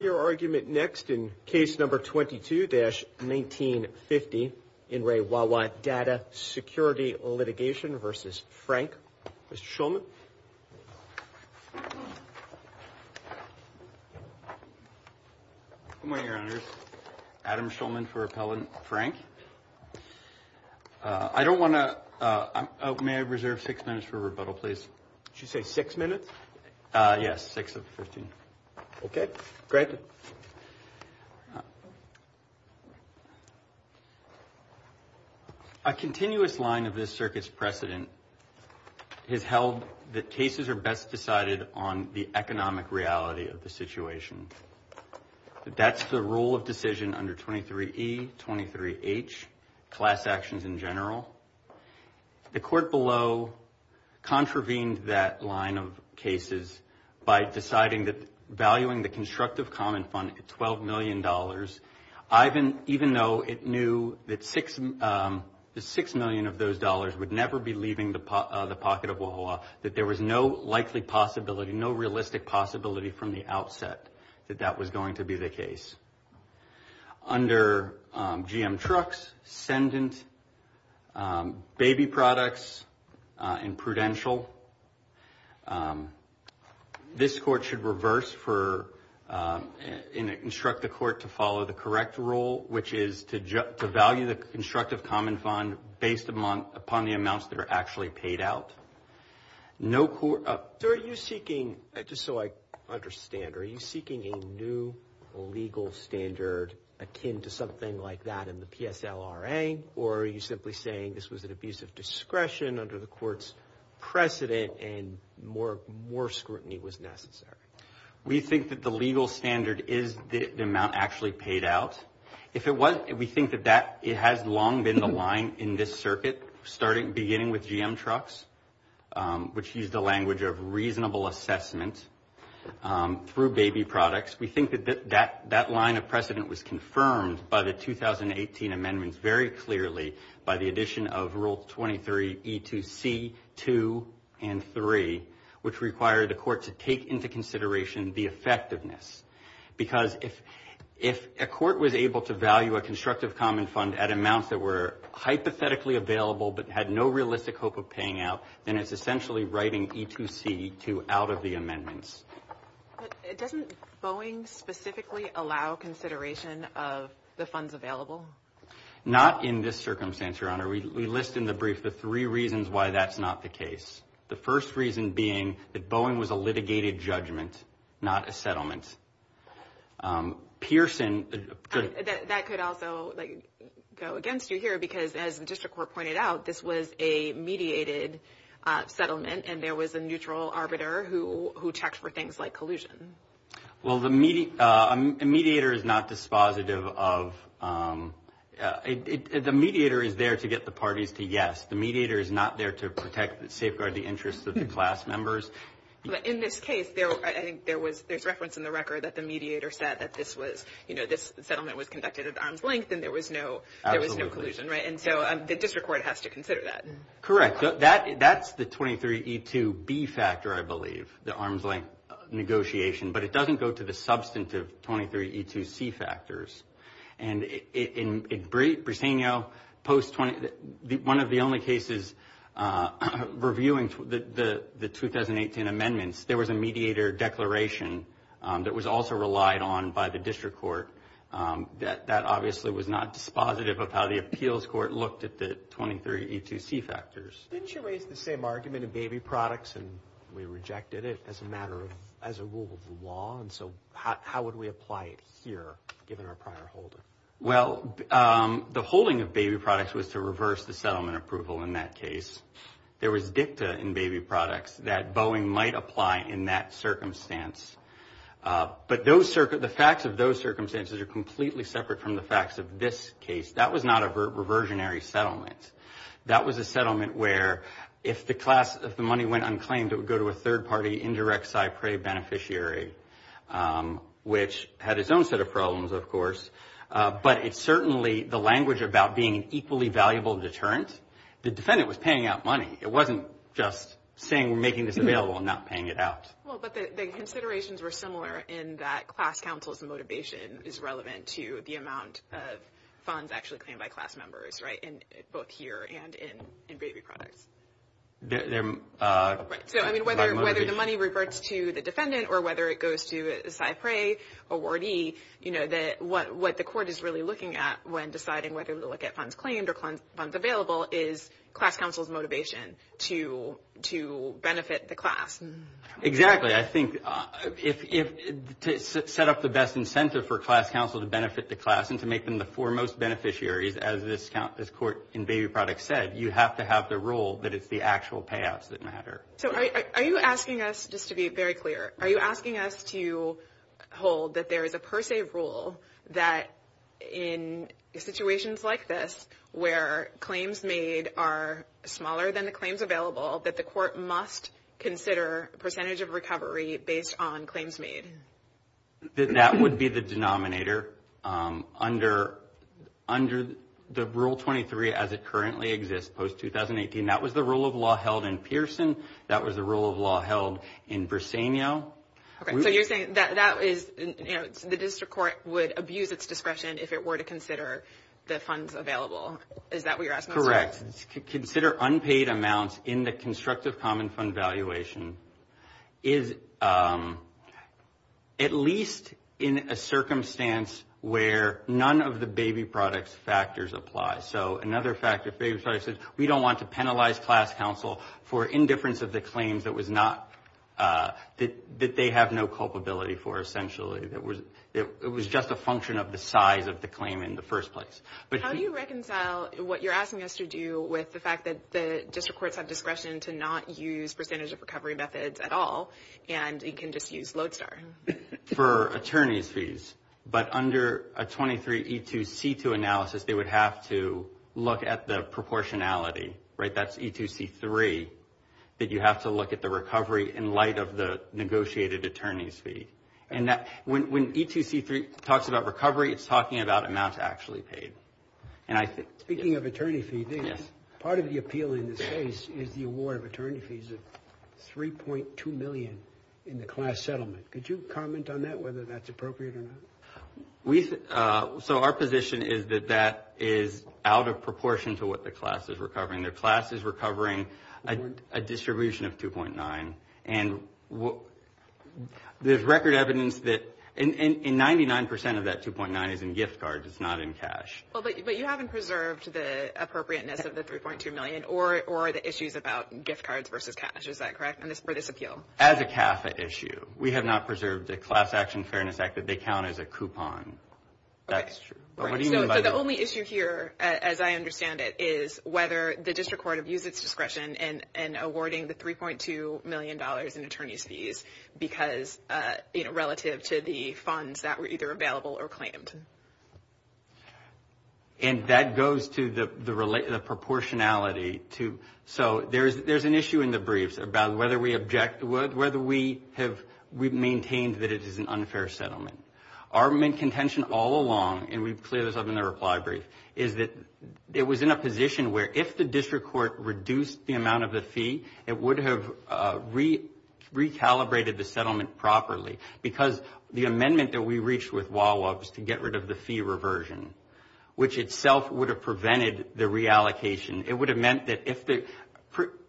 Your argument next in case number 22-1950 in Re Wa Wa Data Security Litigation versus Frank. Mr. Shulman. Good morning, your honors. Adam Shulman for Appellant Frank. I don't want to, may I reserve six minutes for rebuttal, please? Did you say six minutes? Yes, six of the 15. Okay, great. A continuous line of this circuit's precedent has held that cases are best decided on the economic reality of the situation. That's the rule of decision under 23E, 23H, class actions in general. The court below contravened that line of cases by deciding that valuing the Constructive Common Fund at $12 million, even though it knew that the $6 million of those dollars would never be leaving the pocket of Wa Wa Wa, that there was no likely possibility, no realistic possibility from the baby products and prudential. This court should reverse for, and instruct the court to follow the correct rule, which is to value the Constructive Common Fund based upon the amounts that are actually paid out. No court... So are you seeking, just so I understand, are you seeking a new legal standard akin to something like that in the PSLRA, or are you simply saying this was an abuse of discretion under the court's precedent and more scrutiny was necessary? We think that the legal standard is the amount actually paid out. If it wasn't, we think that it has long been the line in this circuit, starting, beginning with GM Trucks, which used the language of reasonable assessment through baby products. We think that that line of precedent was confirmed by the 2018 amendments very clearly by the addition of Rule 23 E2C 2 and 3, which required the court to take into consideration the effectiveness. Because if a court was able to value a Constructive Common Fund at amounts that were hypothetically available but had no realistic hope of paying out, then it's essentially writing E2C 2 out of the amendments. But doesn't Boeing specifically allow consideration of the funds available? Not in this circumstance, Your Honor. We list in the brief the three reasons why that's not the case. The first reason being that Boeing was a litigated judgment, not a settlement. Pearson... That could also go against you here, because as the District Court pointed out, this was a collusion. Well, the mediator is not dispositive of... The mediator is there to get the parties to yes. The mediator is not there to protect and safeguard the interests of the class members. In this case, I think there's reference in the record that the mediator said that this was, you know, this settlement was conducted at arm's length and there was no collusion, right? And so the District Court has to consider that. Correct. That's the 23E2B factor, I believe, the arm's length negotiation, but it doesn't go to the substantive 23E2C factors. And in Briseno, one of the only cases reviewing the 2018 amendments, there was a mediator declaration that was also relied on by the District Court that obviously was not dispositive of how the appeals court looked at the 23E2C factors. Didn't you raise the same argument in Baby Products and we rejected it as a rule of the law? And so how would we apply it here, given our prior holding? Well, the holding of Baby Products was to reverse the settlement approval in that case. There was dicta in Baby Products that Boeing might apply in that circumstance. But the facts of those circumstances are completely separate from the facts of this settlement. That was a settlement where if the class, if the money went unclaimed, it would go to a third-party indirect SIPRE beneficiary, which had its own set of problems, of course. But it certainly, the language about being an equally valuable deterrent, the defendant was paying out money. It wasn't just saying we're making this available and not paying it out. Well, but the considerations were similar in that class counsel's motivation is relevant to the amount of funds actually claimed by class members, right, in both here and in Baby Products. So, I mean, whether the money reverts to the defendant or whether it goes to a SIPRE awardee, you know, what the court is really looking at when deciding whether to look at funds claimed or funds available is class counsel's motivation to benefit the class. Exactly. I think if, to set up the best incentive for class counsel to benefit the class and to make them the foremost beneficiaries, as this court in Baby Products said, you have to have the rule that it's the actual payouts that matter. So are you asking us, just to be very clear, are you asking us to hold that there is a per se rule that in situations like this, where claims made are smaller than the claims available, that the court must consider percentage of recovery based on claims made? That would be the denominator. Under the Rule 23 as it currently exists post-2018, that was the rule of law held in Pearson. That was the rule of law held in Briseño. Okay. So you're saying that that is, you know, the district court would abuse its discretion if it were to consider the funds available. Is that what you're asking? Correct. Consider unpaid amounts in the constructive common fund valuation is, at least in a circumstance where none of the Baby Products factors apply. So another factor, Baby Products said, we don't want to penalize class counsel for indifference of the claims that was not, that they have no culpability for, essentially. It was just a function of the size of the claim in the first place. How do you reconcile what you're asking us to do with the fact that the district courts have discretion to not use percentage of recovery methods at all, and you can just use Lodestar? For attorney's fees. But under a 23 E2C2 analysis, they would have to look at the proportionality, right? That's E2C3, that you have to look at the recovery in light of the negotiated attorney's fee. And when E2C3 talks about recovery, it's talking about amounts actually paid. Speaking of attorney fees, part of the appeal in this case is the award of attorney fees of 3.2 million in the class settlement. Could you comment on that, whether that's appropriate or not? So our position is that that is out of proportion to what the class is recovering. Their class is recovering a distribution of 2.9. And there's record evidence that 99% of that 2.9 is in gift cards, it's not in cash. But you haven't preserved the appropriateness of the 3.2 million or the issues about gift cards versus cash, is that correct, for this appeal? As a CAFA issue. We have not preserved the Class Action Fairness Act that they count as a coupon. That's true. But what do you mean by that? So the only issue here, as I understand it, is whether the district court have used its discretion in awarding the 3.2 million in attorney's fees relative to the funds that were either available or claimed. And that goes to the proportionality. So there's an issue in the briefs about whether we object, whether we've maintained that it is an unfair settlement. Our main contention all along, and we've cleared this up in the reply brief, is that it was in a position where if the district court reduced the amount of the fee, it would have recalibrated the settlement properly. Because the amendment that we reached with Wawa was to get rid of the fee reversion, which itself would have prevented the reallocation. It would have meant that if the,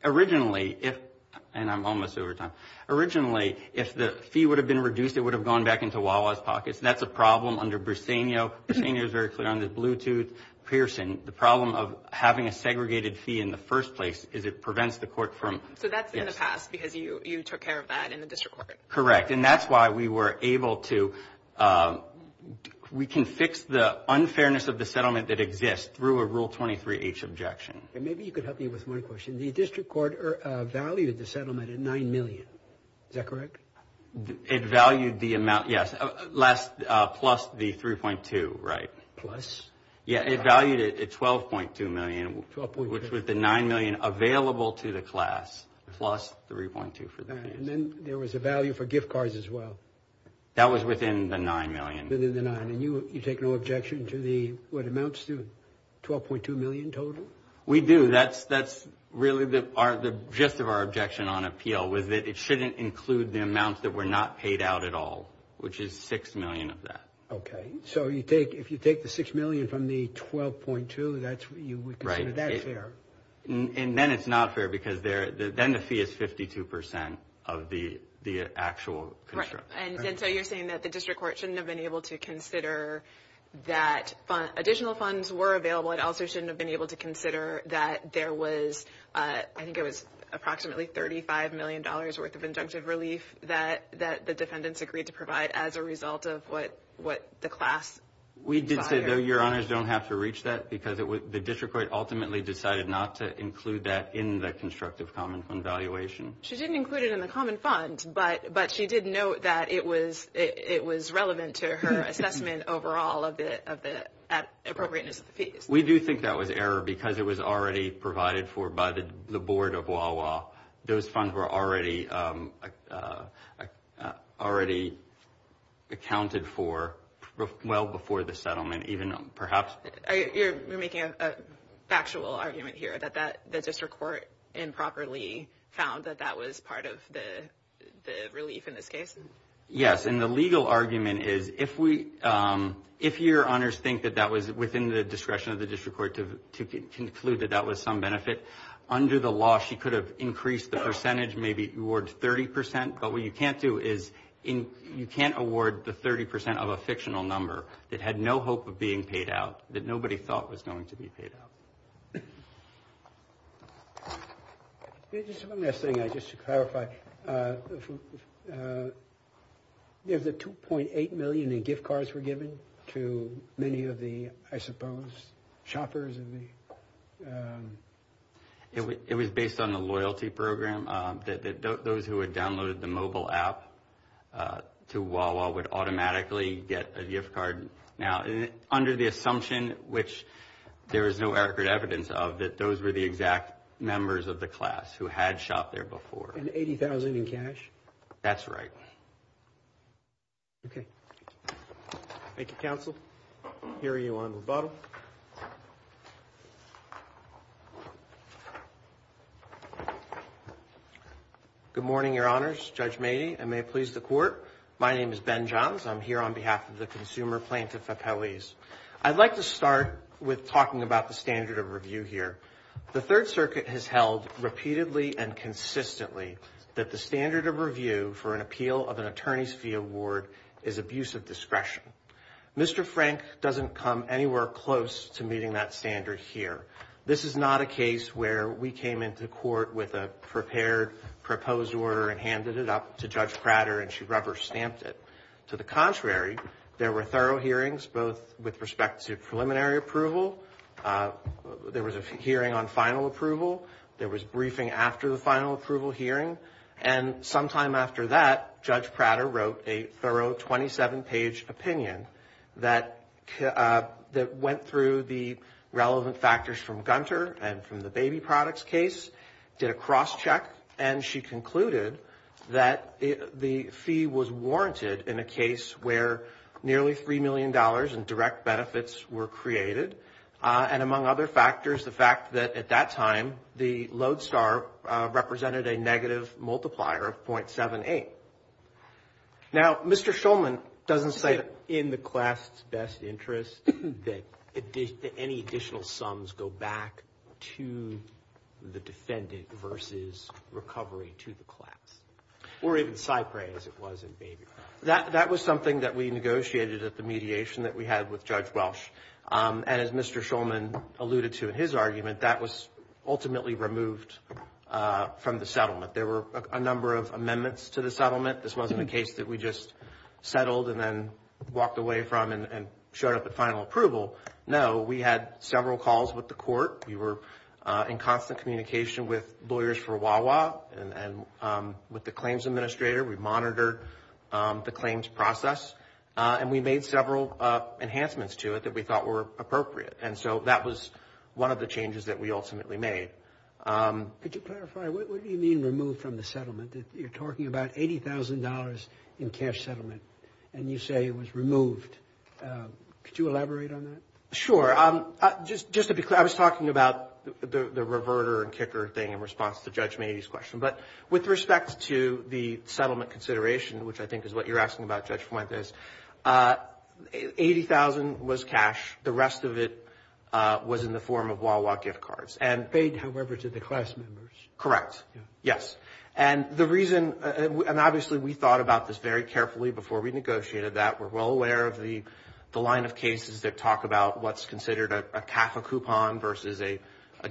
originally, if, and I'm almost over time, originally, if the fee would have been reduced, it would have gone back into Wawa's pockets. That's a problem under Briseno. Briseno is very Pearson. The problem of having a segregated fee in the first place is it prevents the court from. So that's in the past because you took care of that in the district court. Correct. And that's why we were able to, we can fix the unfairness of the settlement that exists through a Rule 23H objection. And maybe you could help me with one question. The district court valued the settlement at 9 million. Is that correct? It valued the amount, yes, plus the 3.2, right? Plus? Yeah, it valued it at 12.2 million, which was the 9 million available to the class, plus 3.2 for the fees. And then there was a value for gift cards as well. That was within the 9 million. Within the 9. And you take no objection to the, what amounts to 12.2 million total? We do. That's really the gist of our objection on appeal was that it shouldn't include the amount that were not paid out at all, which is 6 million of that. Okay. So you take, if you take the 6 million from the 12.2, that's, you would consider that fair? And then it's not fair because then the fee is 52% of the actual construction. And so you're saying that the district court shouldn't have been able to consider that additional funds were available. It also shouldn't have been able to consider that there was, I think it was approximately $35 million worth of injunctive relief that the defendants agreed to provide as a result of what the class. We did say, though, your honors don't have to reach that because the district court ultimately decided not to include that in the constructive common fund valuation. She didn't include it in the common fund, but she did note that it was relevant to her assessment overall of the appropriateness of the fees. We do think that was error because it was already provided for by the board of Wawa. Those funds were already accounted for well before the settlement, even perhaps. You're making a factual argument here that the district court improperly found that that was part of the relief in this case? Yes. And the legal argument is if we, if your honors think that that was within the discretion of the district court to conclude that that was some benefit under the law, she could have increased the percentage, maybe award 30%. But what you can't do is you can't award the 30% of a fictional number that had no hope of being paid out, that nobody thought was going to be paid out. Just one last thing, just to clarify. If the $2.8 million in gift cards were given to many of the, I suppose, shoppers? It was based on the loyalty program, that those who had downloaded the mobile app to Wawa would automatically get a gift card. Now, under the assumption, which there is no record evidence of, that those were the exact members of the class who had shopped there before. And $80,000 in cash? That's right. Okay. Thank you, counsel. Here you are on rebuttal. Thank you. Good morning, your honors. Judge Mady, and may it please the court. My name is Ben Johns. I'm here on behalf of the consumer plaintiff, Apelles. I'd like to start with talking about the standard of review here. The Third Circuit has held repeatedly and consistently that the standard of review for an appeal of an attorney's fee award is abuse of discretion. Mr. Frank doesn't come anywhere close to meeting that standard here. This is not a case where we came into court with a prepared, proposed order and handed it up to Judge Prater and she rubber-stamped it. To the contrary, there were thorough hearings, both with respect to preliminary approval. There was a hearing on final approval. There was briefing after the final approval hearing. Sometime after that, Judge Prater wrote a thorough 27-page opinion that went through the relevant factors from Gunter and from the baby products case, did a cross-check, and she concluded that the fee was warranted in a case where nearly $3 million in direct benefits were created, and among other factors, the fact that at that time, the lodestar represented a negative multiplier of .78. Now, Mr. Shulman doesn't say that in the class' best interest that any additional sums go back to the defendant versus recovery to the class, or even Cypre as it was in baby products. That was something that we negotiated at the mediation that we had with Judge Welsh, and as Mr. Shulman alluded to in his argument, that was ultimately removed from the settlement. There were a number of amendments to the settlement. This wasn't a case that we just settled and then walked away from and showed up at final approval. No, we had several calls with the court. We were in constant communication with Lawyers for Wawa and with the claims administrator. We monitored the claims process, and we made several enhancements to it that we thought were appropriate, and so that was one of the changes that we ultimately made. Could you clarify? What do you mean removed from the settlement? You're talking about $80,000 in cash settlement, and you say it was removed. Could you elaborate on that? Sure. Just to be clear, I was talking about the reverter and kicker thing in response to Judge which I think is what you're asking about, Judge Fuentes. $80,000 was cash. The rest of it was in the form of Wawa gift cards. Paid, however, to the class members. Correct. Yes. And the reason, and obviously we thought about this very carefully before we negotiated that. We're well aware of the line of cases that talk about what's considered a CAFA coupon versus a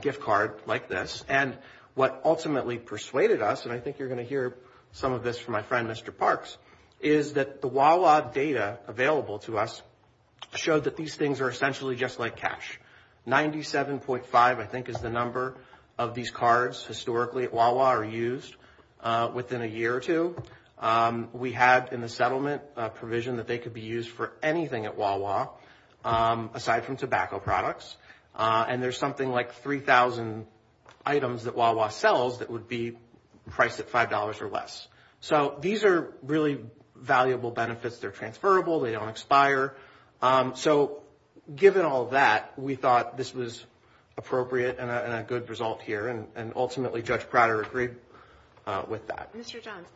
gift card like this, and what ultimately persuaded us, and I think you're going to hear some of this from my friend Mr. Parks, is that the Wawa data available to us showed that these things are essentially just like cash. 97.5 I think is the number of these cards historically at Wawa are used within a year or two. We had in the settlement a provision that they could be used for anything at Wawa aside from tobacco products, and there's something like 3,000 items that Wawa sells that would be $5 or less. So these are really valuable benefits. They're transferable. They don't expire. So given all that, we thought this was appropriate and a good result here, and ultimately Judge Prater agreed with that. Mr. Johns,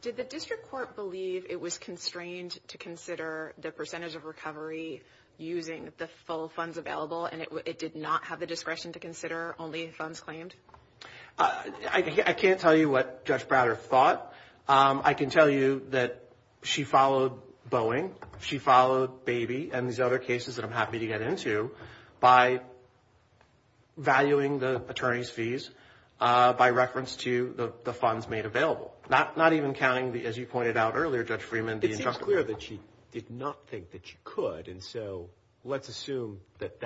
did the district court believe it was constrained to consider the percentage of recovery using the full funds available, and it did not have the discretion to consider only funds claimed? I can't tell you what Judge Prater thought. I can tell you that she followed Boeing. She followed Baby and these other cases that I'm happy to get into by valuing the attorney's fees by reference to the funds made available, not even counting, as you pointed out earlier, Judge Freeman. It seems clear that she did not think that she could, and so let's assume that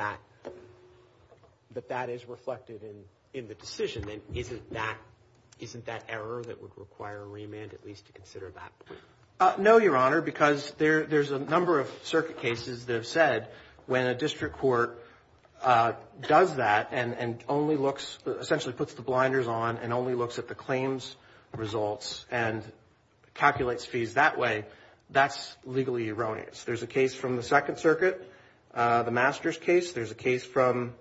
that is reflected in the decision. Then isn't that error that would require a remand at least to consider that? No, Your Honor, because there's a number of circuit cases that have said when a district court does that and only looks, essentially puts the blinders on and only looks at the claims results and calculates fees that way, that's legally erroneous. There's a case from the Second Circuit, the Masters case. There's a case from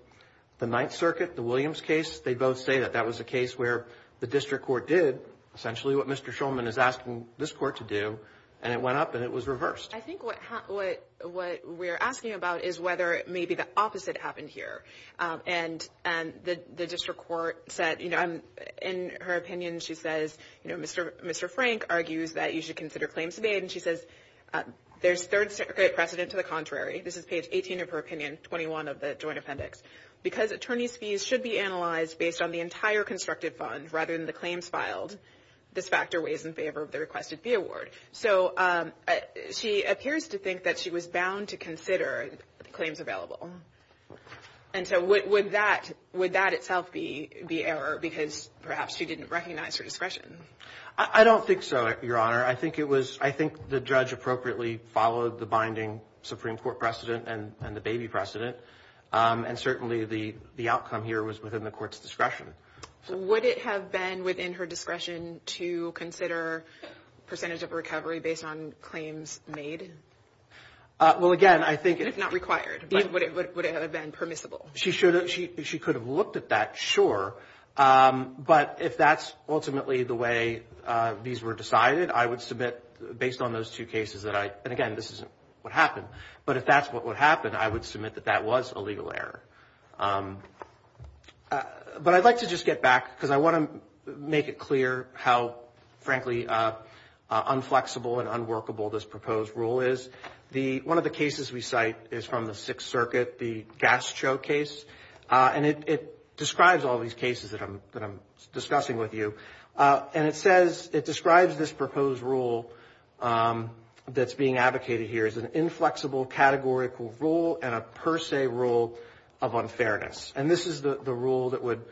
the Ninth Circuit, the Williams case. They both say that that was a case where the district court did essentially what Mr. Schulman is asking this court to do, and it went up and it was reversed. I think what we're asking about is whether maybe the opposite happened here, and the district court said, in her opinion, she says, Mr. Frank argues that you should consider claims made, and she says there's third circuit precedent to the contrary. This is page 18 of her opinion, 21 of the joint appendix. Because attorney's fees should be analyzed based on the entire constructed fund rather than the claims filed, this factor weighs in favor of the requested fee award. So she appears to think that she was bound to consider the claims available, and so would that itself be error because perhaps she didn't recognize her discretion? I don't think so, Your Honor. I think the judge appropriately followed the binding Supreme Court precedent and the baby precedent, and certainly the outcome here was within the court's discretion. Would it have been within her discretion to consider percentage of recovery based on claims made? Well, again, I think... And if not required, would it have been permissible? She could have looked at that, sure, but if that's ultimately the way these were decided, I would submit based on those two cases that I... And again, this isn't what happened, but if that's what would happen, I would submit that that was a legal error. But I'd like to just get back because I want to make it clear how, frankly, unflexible and unworkable this proposed rule is. One of the cases we cite is from the Sixth Circuit, the Gastro case, and it describes all these cases that I'm discussing with you. And it says, it describes this proposed rule that's being advocated here as an inflexible categorical rule and a per se rule of unfairness. And this is the rule that would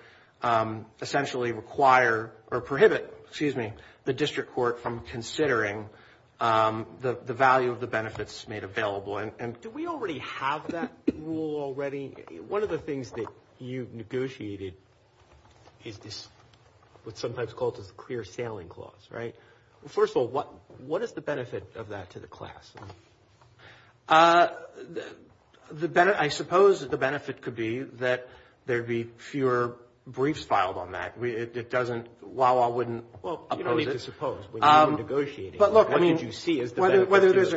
essentially require or prohibit, excuse me, the district court from considering the value of the benefits made available. And do we already have that rule already? One of the things that you've negotiated is this, what's sometimes called a clear sailing clause, right? First of all, what is the benefit of that to the class? I suppose the benefit could be that there'd be fewer briefs filed on that. It doesn't, Wawa wouldn't... Well, you don't need to suppose when you're negotiating. But look, I mean, whether there's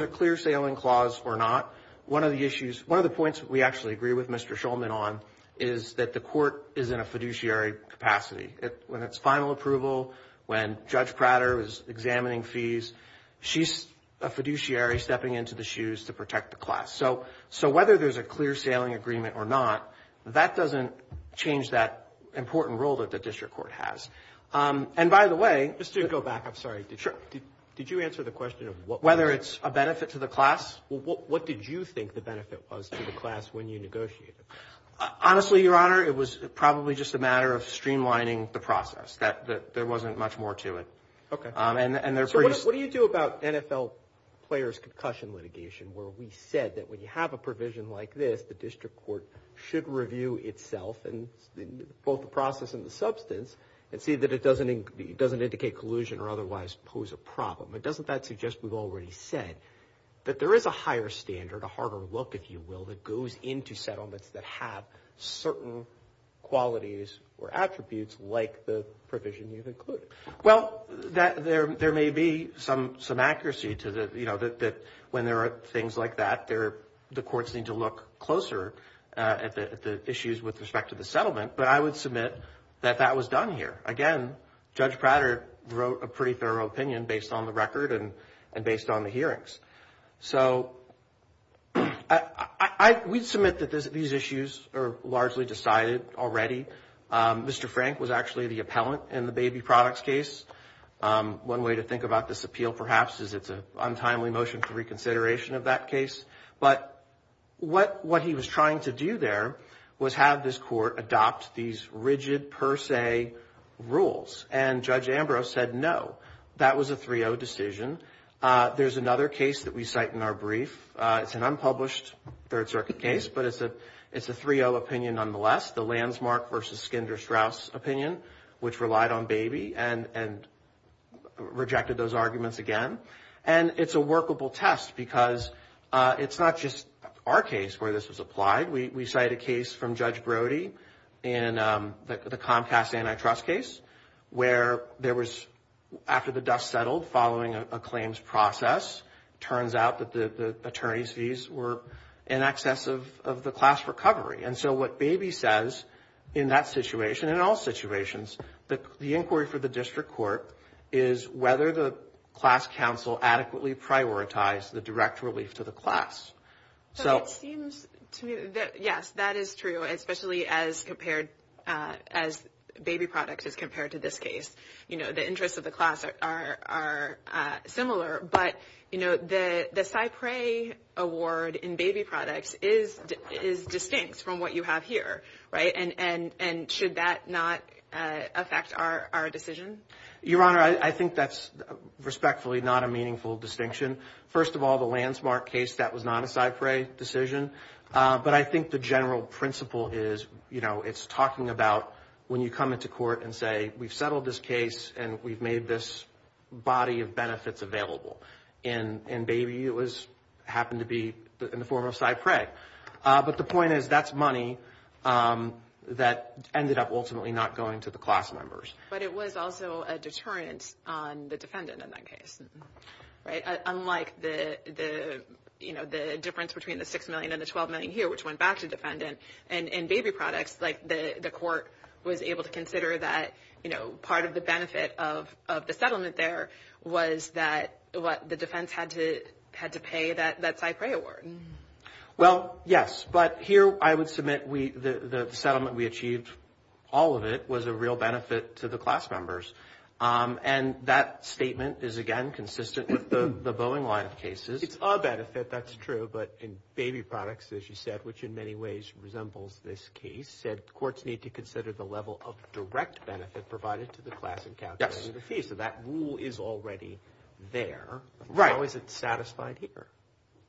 a clear sailing clause or not, one of the issues, we actually agree with Mr. Shulman on, is that the court is in a fiduciary capacity. When it's final approval, when Judge Prater is examining fees, she's a fiduciary stepping into the shoes to protect the class. So whether there's a clear sailing agreement or not, that doesn't change that important role that the district court has. And by the way... Just to go back, I'm sorry, did you answer the question of what... Whether it's a benefit to the class. What did you think the benefit was to the class when you negotiated? Honestly, Your Honor, it was probably just a matter of streamlining the process. That there wasn't much more to it. Okay. What do you do about NFL players' concussion litigation, where we said that when you have a provision like this, the district court should review itself, both the process and the substance, and see that it doesn't indicate collusion or otherwise pose a problem. But doesn't that suggest, we've already said, that there is a higher standard, a harder look, if you will, that goes into settlements that have certain qualities or attributes like the provision you've included? Well, there may be some accuracy to the... When there are things like that, the courts need to look closer at the issues with respect to the settlement. But I would submit that that was done here. Again, Judge Prater wrote a pretty thorough opinion based on the record and based on the hearings. So, we'd submit that these issues are largely decided already. Mr. Frank was actually the appellant in the baby products case. One way to think about this appeal, perhaps, is it's an untimely motion for reconsideration of that case. But what he was trying to do there was have this court adopt these rigid per se rules. And Judge Ambrose said, no, that was a 3-0 decision. There's another case that we cite in our brief. It's an unpublished Third Circuit case, but it's a 3-0 opinion nonetheless, the Landsmark v. Skinder-Strauss opinion, which relied on baby and rejected those arguments again. And it's a workable test because it's not just our case where this was applied. We cite a case from Judge Brody in the Comcast antitrust case where there was, after the dust settled following a claims process, it turns out that the attorney's fees were in excess of the class recovery. And so what baby says in that situation, in all situations, the inquiry for the district court is whether the class counsel adequately prioritized the direct relief to the class. So it seems to me that, yes, that is true, especially as compared, as baby products as compared to this case. You know, the interests of the class are similar. But, you know, the Cypre award in baby products is distinct from what you have here, right? And should that not affect our decision? Your Honor, I think that's respectfully not a meaningful distinction. First of all, the Landsmark case, that was not a Cypre decision. But I think the general principle is, you know, it's talking about when you come into court and say, we've settled this case and we've made this body of benefits available. And baby, it happened to be in the form of Cypre. But the point is, that's money that ended up ultimately not going to the class members. But it was also a deterrent on the defendant in that case, right? Unlike the, you know, the difference between the $6 million and the $12 million here, which went back to defendant. And in baby products, like the court was able to consider that, you know, part of the benefit of the settlement there was that the defense had to pay that Cypre award. Well, yes. But here, I would submit the settlement we achieved, all of it, was a real benefit to the class members. And that statement is, again, consistent with the Boeing line of cases. It's a benefit, that's true. But in baby products, as you said, which in many ways resembles this case, said courts need to consider the level of direct benefit provided to the class in calculating the fee. So that rule is already there. How is it satisfied here?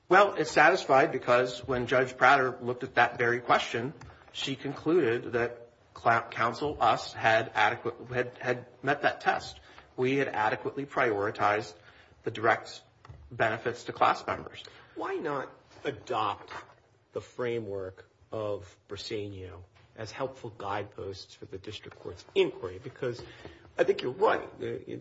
Well, it's satisfied because when Judge Prater looked at that very question, she concluded that counsel, us, had adequate, had met that test. We had adequately prioritized the direct benefits to class members. Why not adopt the framework of Briseno as helpful guideposts for the district court's inquiry? Because I think you're right,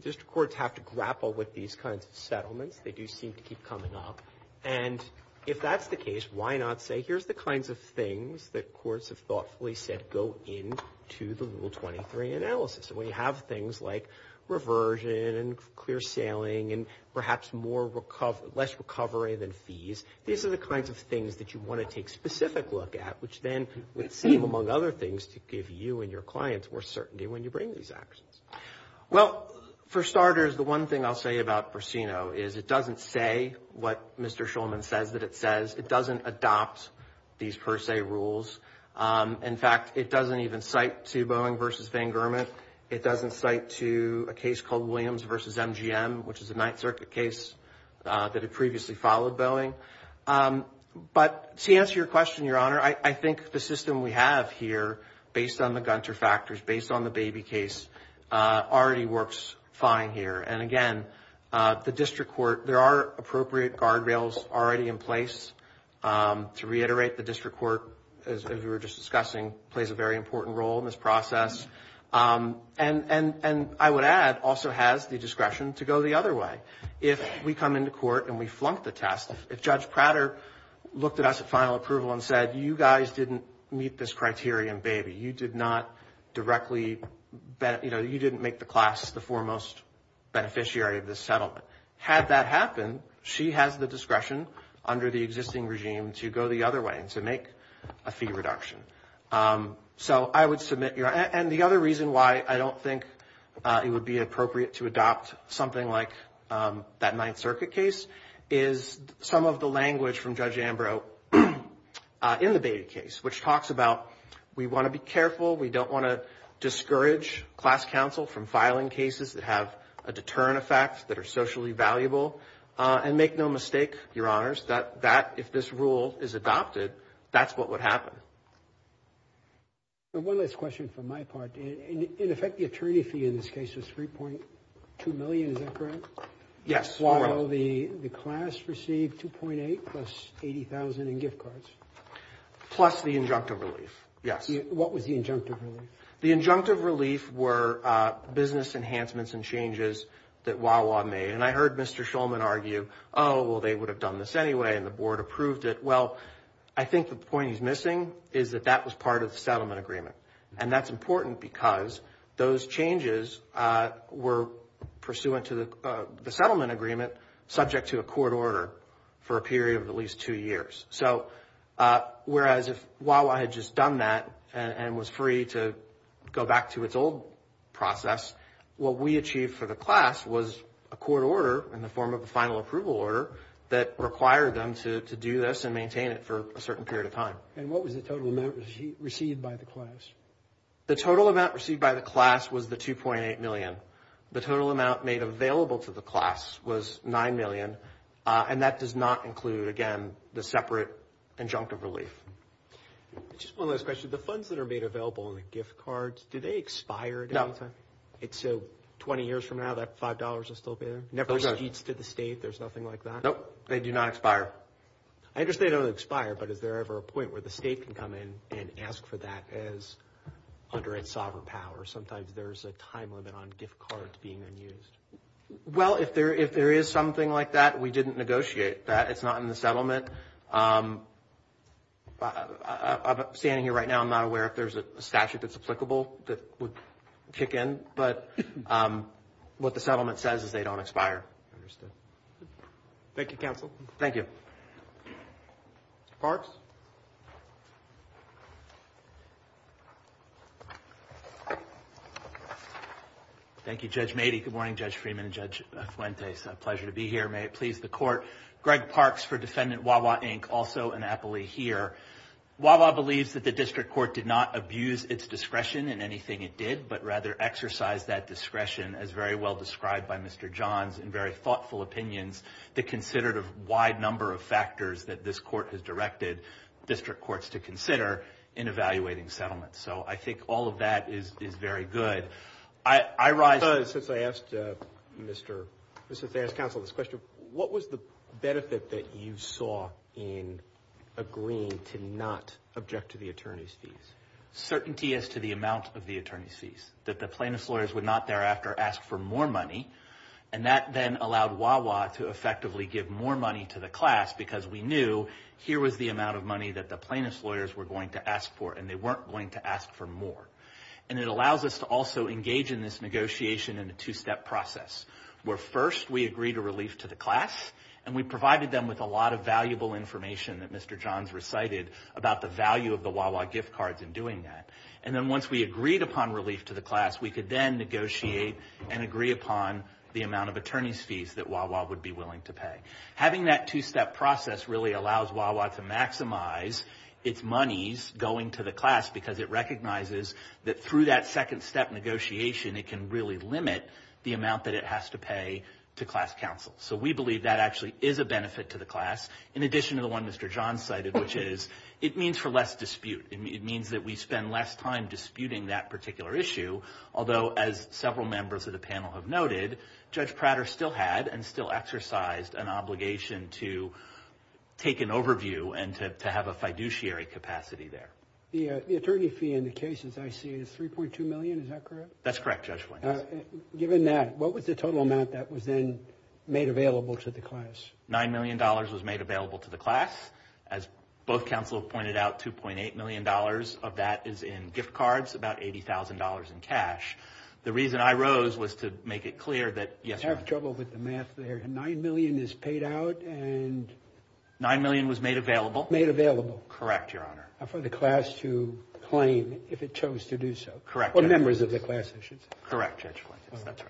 district courts have to grapple with these kinds of settlements. They do seem to keep coming up. And if that's the case, why not say, here's the kinds of things that courts have thoughtfully said go into the Rule 23 analysis. We have things like reversion and clear sailing and perhaps less recovery than fees. These are the kinds of things that you want to take specific look at, which then would seem, among other things, to give you and your clients more certainty when you bring these actions. Well, for starters, the one thing I'll say about Briseno is it doesn't say what Mr. Shulman says that it says. It doesn't adopt these per se rules. In fact, it doesn't even cite to Boeing versus Van Gurmet. It doesn't cite to a case called Williams versus MGM, which is a Ninth Circuit case that had previously followed Boeing. But to answer your question, Your Honor, I think the system we have here, based on the already works fine here. And again, the district court, there are appropriate guardrails already in place. To reiterate, the district court, as we were just discussing, plays a very important role in this process. And I would add, also has the discretion to go the other way. If we come into court and we flunk the test, if Judge Prater looked at us at final approval and said, you guys didn't meet this criterion, baby. You did not directly, you know, you didn't make the class the foremost beneficiary of this settlement. Had that happened, she has the discretion under the existing regime to go the other way and to make a fee reduction. So I would submit, Your Honor, and the other reason why I don't think it would be appropriate to adopt something like that Ninth Circuit case is some of the language from Judge Ambrose in the beta case, which talks about, we want to be careful. We don't want to discourage class counsel from filing cases that have a deterrent effect that are socially valuable. And make no mistake, Your Honors, that if this rule is adopted, that's what would happen. And one last question from my part. In effect, the attorney fee in this case was $3.2 million. Is that correct? Yes. The class received $2.8 million plus $80,000 in gift cards. Plus the injunctive relief. Yes. What was the injunctive relief? The injunctive relief were business enhancements and changes that Wawa made. And I heard Mr. Schulman argue, oh, well, they would have done this anyway, and the board approved it. Well, I think the point he's missing is that that was part of the settlement agreement. And that's important because those changes were pursuant to the settlement agreement subject to a court order for a period of at least two years. So whereas if Wawa had just done that and was free to go back to its old process, what we achieved for the class was a court order in the form of a final approval order that required them to do this and maintain it for a certain period of time. And what was the total amount received by the class? The total amount received by the class was the $2.8 million. The total amount made available to the class was $9 million. And that does not include, again, the separate injunctive relief. Just one last question. The funds that are made available in the gift cards, do they expire at any time? No. And so 20 years from now, that $5 will still be there? Never receipts to the state? There's nothing like that? Nope. They do not expire. I understand they don't expire. But is there ever a point where the state can come in and ask for that under its sovereign power? Sometimes there's a time limit on gift cards being unused. Well, if there is something like that, we didn't negotiate that. It's not in the settlement. Standing here right now, I'm not aware if there's a statute that's applicable that would kick in. But what the settlement says is they don't expire. Understood. Thank you, counsel. Thank you. Parks? Thank you, Judge Mady. Good morning, Judge Freeman and Judge Fuentes. A pleasure to be here. May it please the court. Greg Parks for Defendant Wawa, Inc., also an appellee here. Wawa believes that the district court did not abuse its discretion in anything it did, but rather exercised that discretion as very well described by Mr. Johns in very thoughtful opinions that considered a wide number of factors that this court has directed district courts to consider in evaluating settlements. So I think all of that is very good. Since I asked counsel this question, what was the benefit that you saw in agreeing to not object to the attorney's fees? Certainty as to the amount of the attorney's fees, that the plaintiff's lawyers would not thereafter ask for more money. And that then allowed Wawa to effectively give more money to the class because we knew here was the amount of money that the plaintiff's lawyers were going to ask for, and they weren't going to ask for more. And it allows us to also engage in this negotiation in a two-step process, where first we agreed a relief to the class, and we provided them with a lot of valuable information that Mr. Johns recited about the value of the Wawa gift cards in doing that. And then once we agreed upon relief to the class, we could then negotiate and agree upon the amount of attorney's fees that Wawa would be willing to pay. Having that two-step process really allows Wawa to maximize its monies going to the class because it recognizes that through that second step negotiation, it can really limit the amount that it has to pay to class counsel. So we believe that actually is a benefit to the class, in addition to the one Mr. Johns cited, which is it means for less dispute. It means that we spend less time disputing that particular issue. Although, as several members of the panel have noted, Judge Prater still had and still exercised an obligation to take an overview and to have a fiduciary capacity there. The attorney fee in the cases I see is $3.2 million, is that correct? That's correct, Judge Flink. Given that, what was the total amount that was then made available to the class? $9 million was made available to the class. As both counsel have pointed out, $2.8 million of that is in gift cards, about $80,000 in cash. The reason I rose was to make it clear that, yes, Your Honor. I have trouble with the math there. $9 million is paid out and... $9 million was made available. Made available. Correct, Your Honor. For the class to claim if it chose to do so. Correct. Or members of the class, I should say. Correct, Judge Flink. That's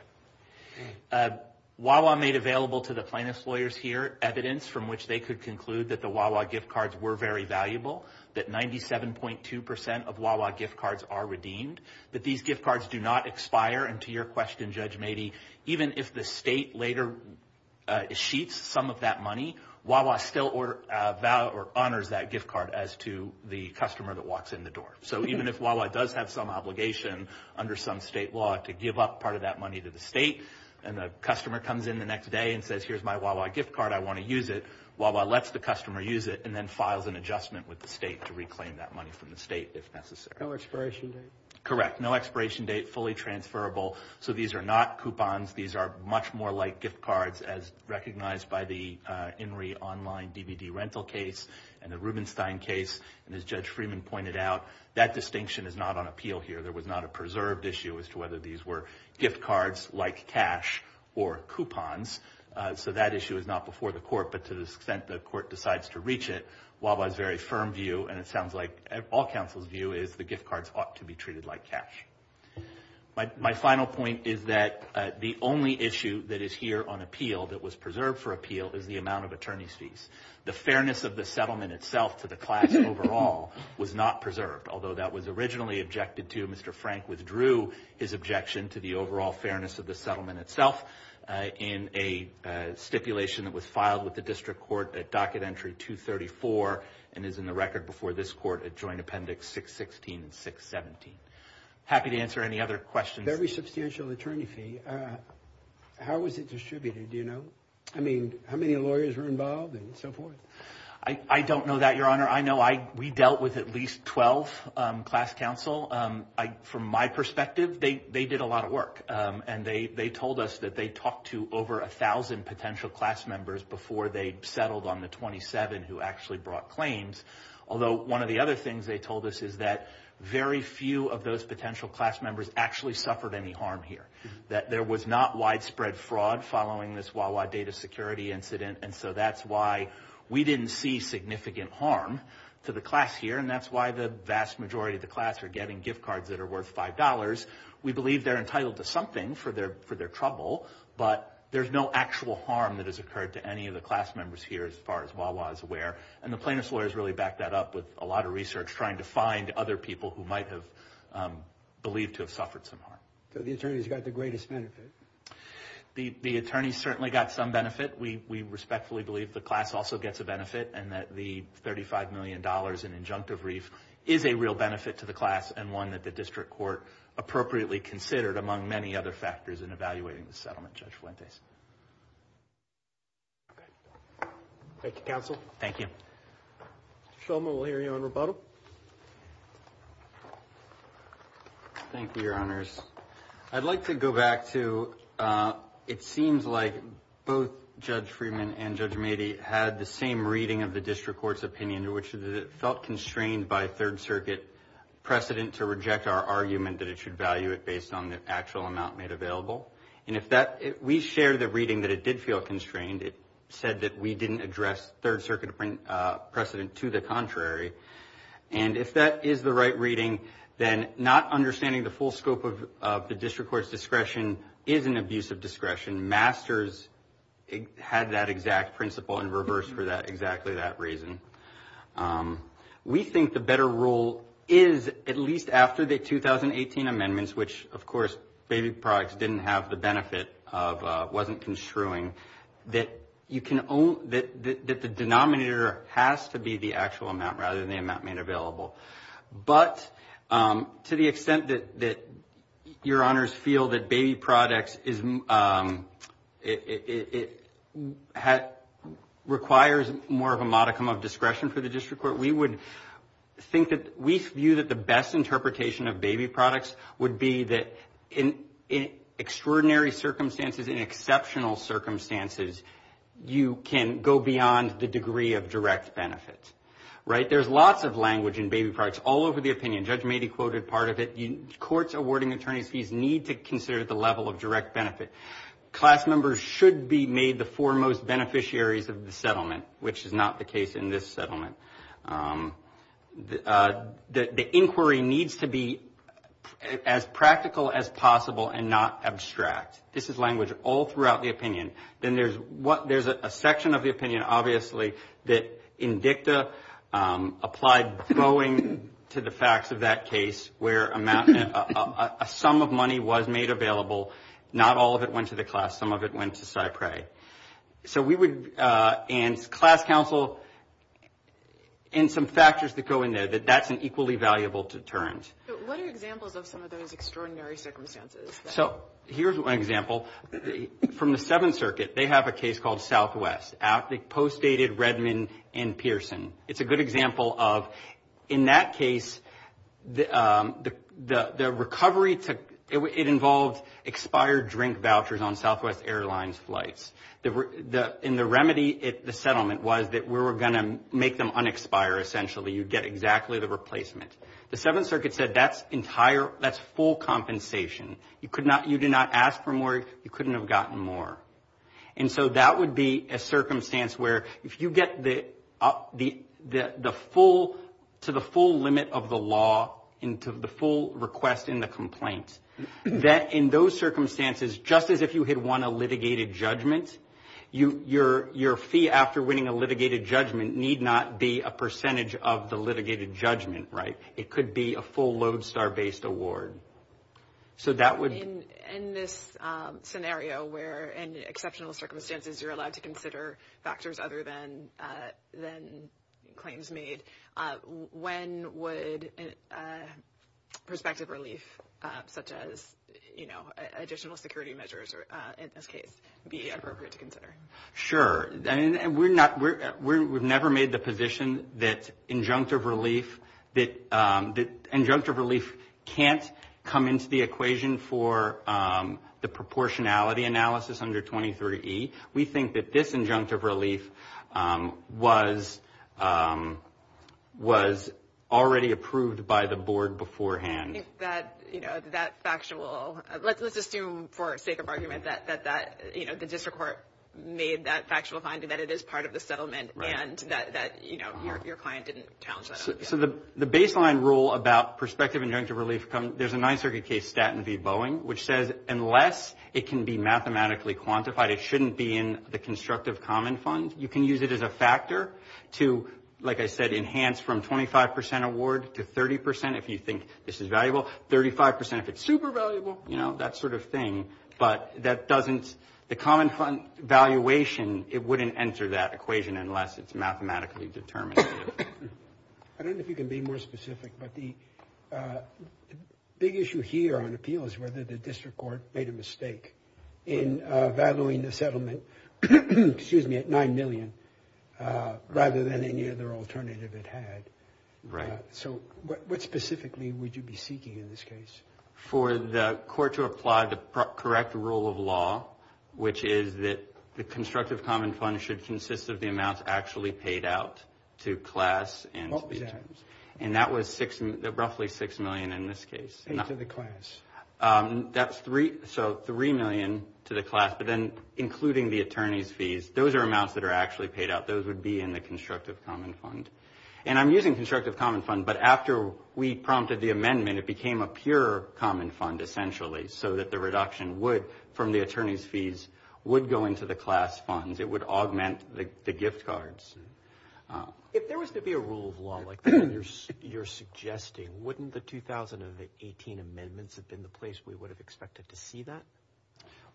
right. Wawa made available to the plaintiff's lawyers here evidence from which they could conclude that the Wawa gift cards were very valuable, that 97.2% of Wawa gift cards are redeemed, that these gift cards do not expire. And to your question, Judge Mady, even if the state later sheets some of that money, Wawa still honors that gift card as to the customer that walks in the door. So even if Wawa does have some obligation under some state law to give up part of that money to the state, and the customer comes in the next day and says, here's my Wawa gift and then files an adjustment with the state to reclaim that money from the state if necessary. No expiration date. Correct. No expiration date. Fully transferable. So these are not coupons. These are much more like gift cards, as recognized by the INRI online DVD rental case and the Rubenstein case. And as Judge Freeman pointed out, that distinction is not on appeal here. There was not a preserved issue as to whether these were gift cards like cash or coupons. So that issue is not before the court. But to the extent the court decides to reach it, Wawa's very firm view, and it sounds like all counsel's view, is the gift cards ought to be treated like cash. My final point is that the only issue that is here on appeal that was preserved for appeal is the amount of attorney's fees. The fairness of the settlement itself to the class overall was not preserved. Although that was originally objected to, Mr. Frank withdrew his objection to the overall stipulation that was filed with the district court at docket entry 234 and is in the record before this court at joint appendix 616 and 617. Happy to answer any other questions. Very substantial attorney fee. How was it distributed? Do you know? I mean, how many lawyers were involved and so forth? I don't know that, Your Honor. I know we dealt with at least 12 class counsel. From my perspective, they did a lot of work. And they told us that they talked to over 1,000 potential class members before they settled on the 27 who actually brought claims. Although one of the other things they told us is that very few of those potential class members actually suffered any harm here. That there was not widespread fraud following this Wawa data security incident. And so that's why we didn't see significant harm to the class here. And that's why the vast majority of the class are getting gift cards that are worth $5. We believe they're entitled to something for their trouble. But there's no actual harm that has occurred to any of the class members here as far as Wawa is aware. And the plaintiff's lawyers really backed that up with a lot of research trying to find other people who might have believed to have suffered some harm. So the attorneys got the greatest benefit? The attorneys certainly got some benefit. We respectfully believe the class also gets a benefit. And that the $35 million in injunctive reef is a real benefit to the class and one that the district court appropriately considered among many other factors in evaluating the settlement, Judge Fuentes. Thank you, counsel. Thank you. Judge Shulman, we'll hear you on rebuttal. Thank you, your honors. I'd like to go back to, it seems like both Judge Freeman and Judge Mady had the same reading of the district court's opinion in which it felt constrained by third circuit precedent to reject our argument that it should value it based on the actual amount made available. And if that, we shared the reading that it did feel constrained. It said that we didn't address third circuit precedent to the contrary. And if that is the right reading, then not understanding the full scope of the district court's discretion is an abuse of discretion. Masters had that exact principle in reverse for that, exactly that reason. Um, we think the better rule is at least after the 2018 amendments, which of course, baby products didn't have the benefit of, uh, wasn't construing that you can own that, that the denominator has to be the actual amount rather than the amount made available. But, um, to the extent that, that your honors feel that baby products is, um, it, it, it requires more of a modicum of discretion for the district court. We would think that we view that the best interpretation of baby products would be that in extraordinary circumstances, in exceptional circumstances, you can go beyond the degree of direct benefit, right? There's lots of language in baby products all over the opinion. Judge Mady quoted part of it. Courts awarding attorneys fees need to consider the level of direct benefit. Class members should be made the foremost beneficiaries of the settlement, which is not the case in this settlement. Um, uh, the, the inquiry needs to be as practical as possible and not abstract. This is language all throughout the opinion. Then there's what, there's a section of the opinion, obviously, that INDICTA, um, applied bowing to the facts of that case where amount, a sum of money was made available, not all of it went to the class, some of it went to CyPrey. So we would, uh, and class counsel, and some factors that go in there, that that's an equally valuable deterrent. So what are examples of some of those extraordinary circumstances? So here's one example. From the Seventh Circuit, they have a case called Southwest, out, they post dated Redman and Pearson. It's a good example of, in that case, the, um, the, the, the recovery took, it involved expired drink vouchers on Southwest Airlines flights. The, the, and the remedy at the settlement was that we were going to make them unexpired essentially, you'd get exactly the replacement. The Seventh Circuit said that's entire, that's full compensation. You could not, you did not ask for more, you couldn't have gotten more. And so that would be a circumstance where if you get the, uh, the, the, the full, to the full limit of the law into the full request in the complaint, that in those circumstances, just as if you had won a litigated judgment, you, your, your fee after winning a litigated judgment need not be a percentage of the litigated judgment, right? It could be a full lodestar-based award. So that would... In, in this, um, scenario where, in exceptional circumstances, you're allowed to consider factors other than, uh, than claims made, uh, when would, uh, prospective relief, uh, such as, you know, additional security measures, or, uh, in this case, be appropriate to consider? Sure, and we're not, we're, we've never made the position that injunctive relief, that, um, that injunctive relief can't come into the equation for, um, the proportionality analysis under 23E. We think that this injunctive relief, um, was, um, was already approved by the board beforehand. That, you know, that factual... Let's, let's assume for sake of argument that, that, that, you know, the district court made that factual finding that it is part of the settlement and that, that, you know, your, your client didn't challenge that argument. So the, the baseline rule about prospective injunctive relief comes... There's a Ninth Circuit case, Staten v. Boeing, which says unless it can be mathematically quantified, it shouldn't be in the constructive common fund. You can use it as a factor to, like I said, enhance from 25% award to 30% if you think this is valuable, 35% if it's super valuable, you know, that sort of thing. But that doesn't, the common fund valuation, it wouldn't enter that equation unless it's mathematically determined. I don't know if you can be more specific, but the, uh, big issue here on appeal is whether the district court made a mistake in, uh, valuing the settlement, excuse me, at $9 million, rather than any other alternative it had. Right. So what, what specifically would you be seeking in this case? For the court to apply the correct rule of law, which is that the constructive common fund should consist of the amounts actually paid out to class and... What was that? And that was six, roughly $6 million in this case. To the class. That's three, so $3 million to the class, but then including the attorney's fees, those are amounts that are actually paid out. Those would be in the constructive common fund. And I'm using constructive common fund, but after we prompted the amendment, it became a pure common fund, essentially, so that the reduction would, from the attorney's fees, would go into the class funds. It would augment the gift cards. If there was to be a rule of law like you're, you're suggesting, wouldn't the 2018 amendments have been the place we would have expected to see that?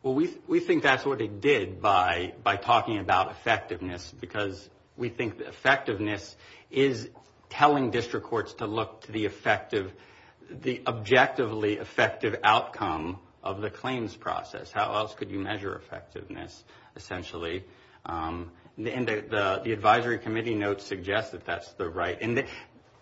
Well, we, we think that's what they did by, by talking about effectiveness, because we think that effectiveness is telling district courts to look to the effective, the objectively effective outcome of the claims process. How else could you measure effectiveness, essentially? And the, the advisory committee notes suggest that that's the right, and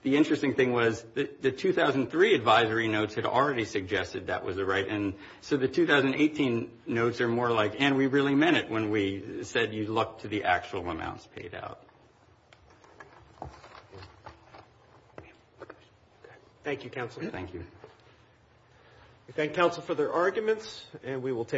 the interesting thing was the 2003 advisory notes had already suggested that was the right, and so the 2018 notes are more like, and we really meant it when we said you look to the actual amounts paid out. Thank you, counsel. Thank you. We thank counsel for their arguments, and we will take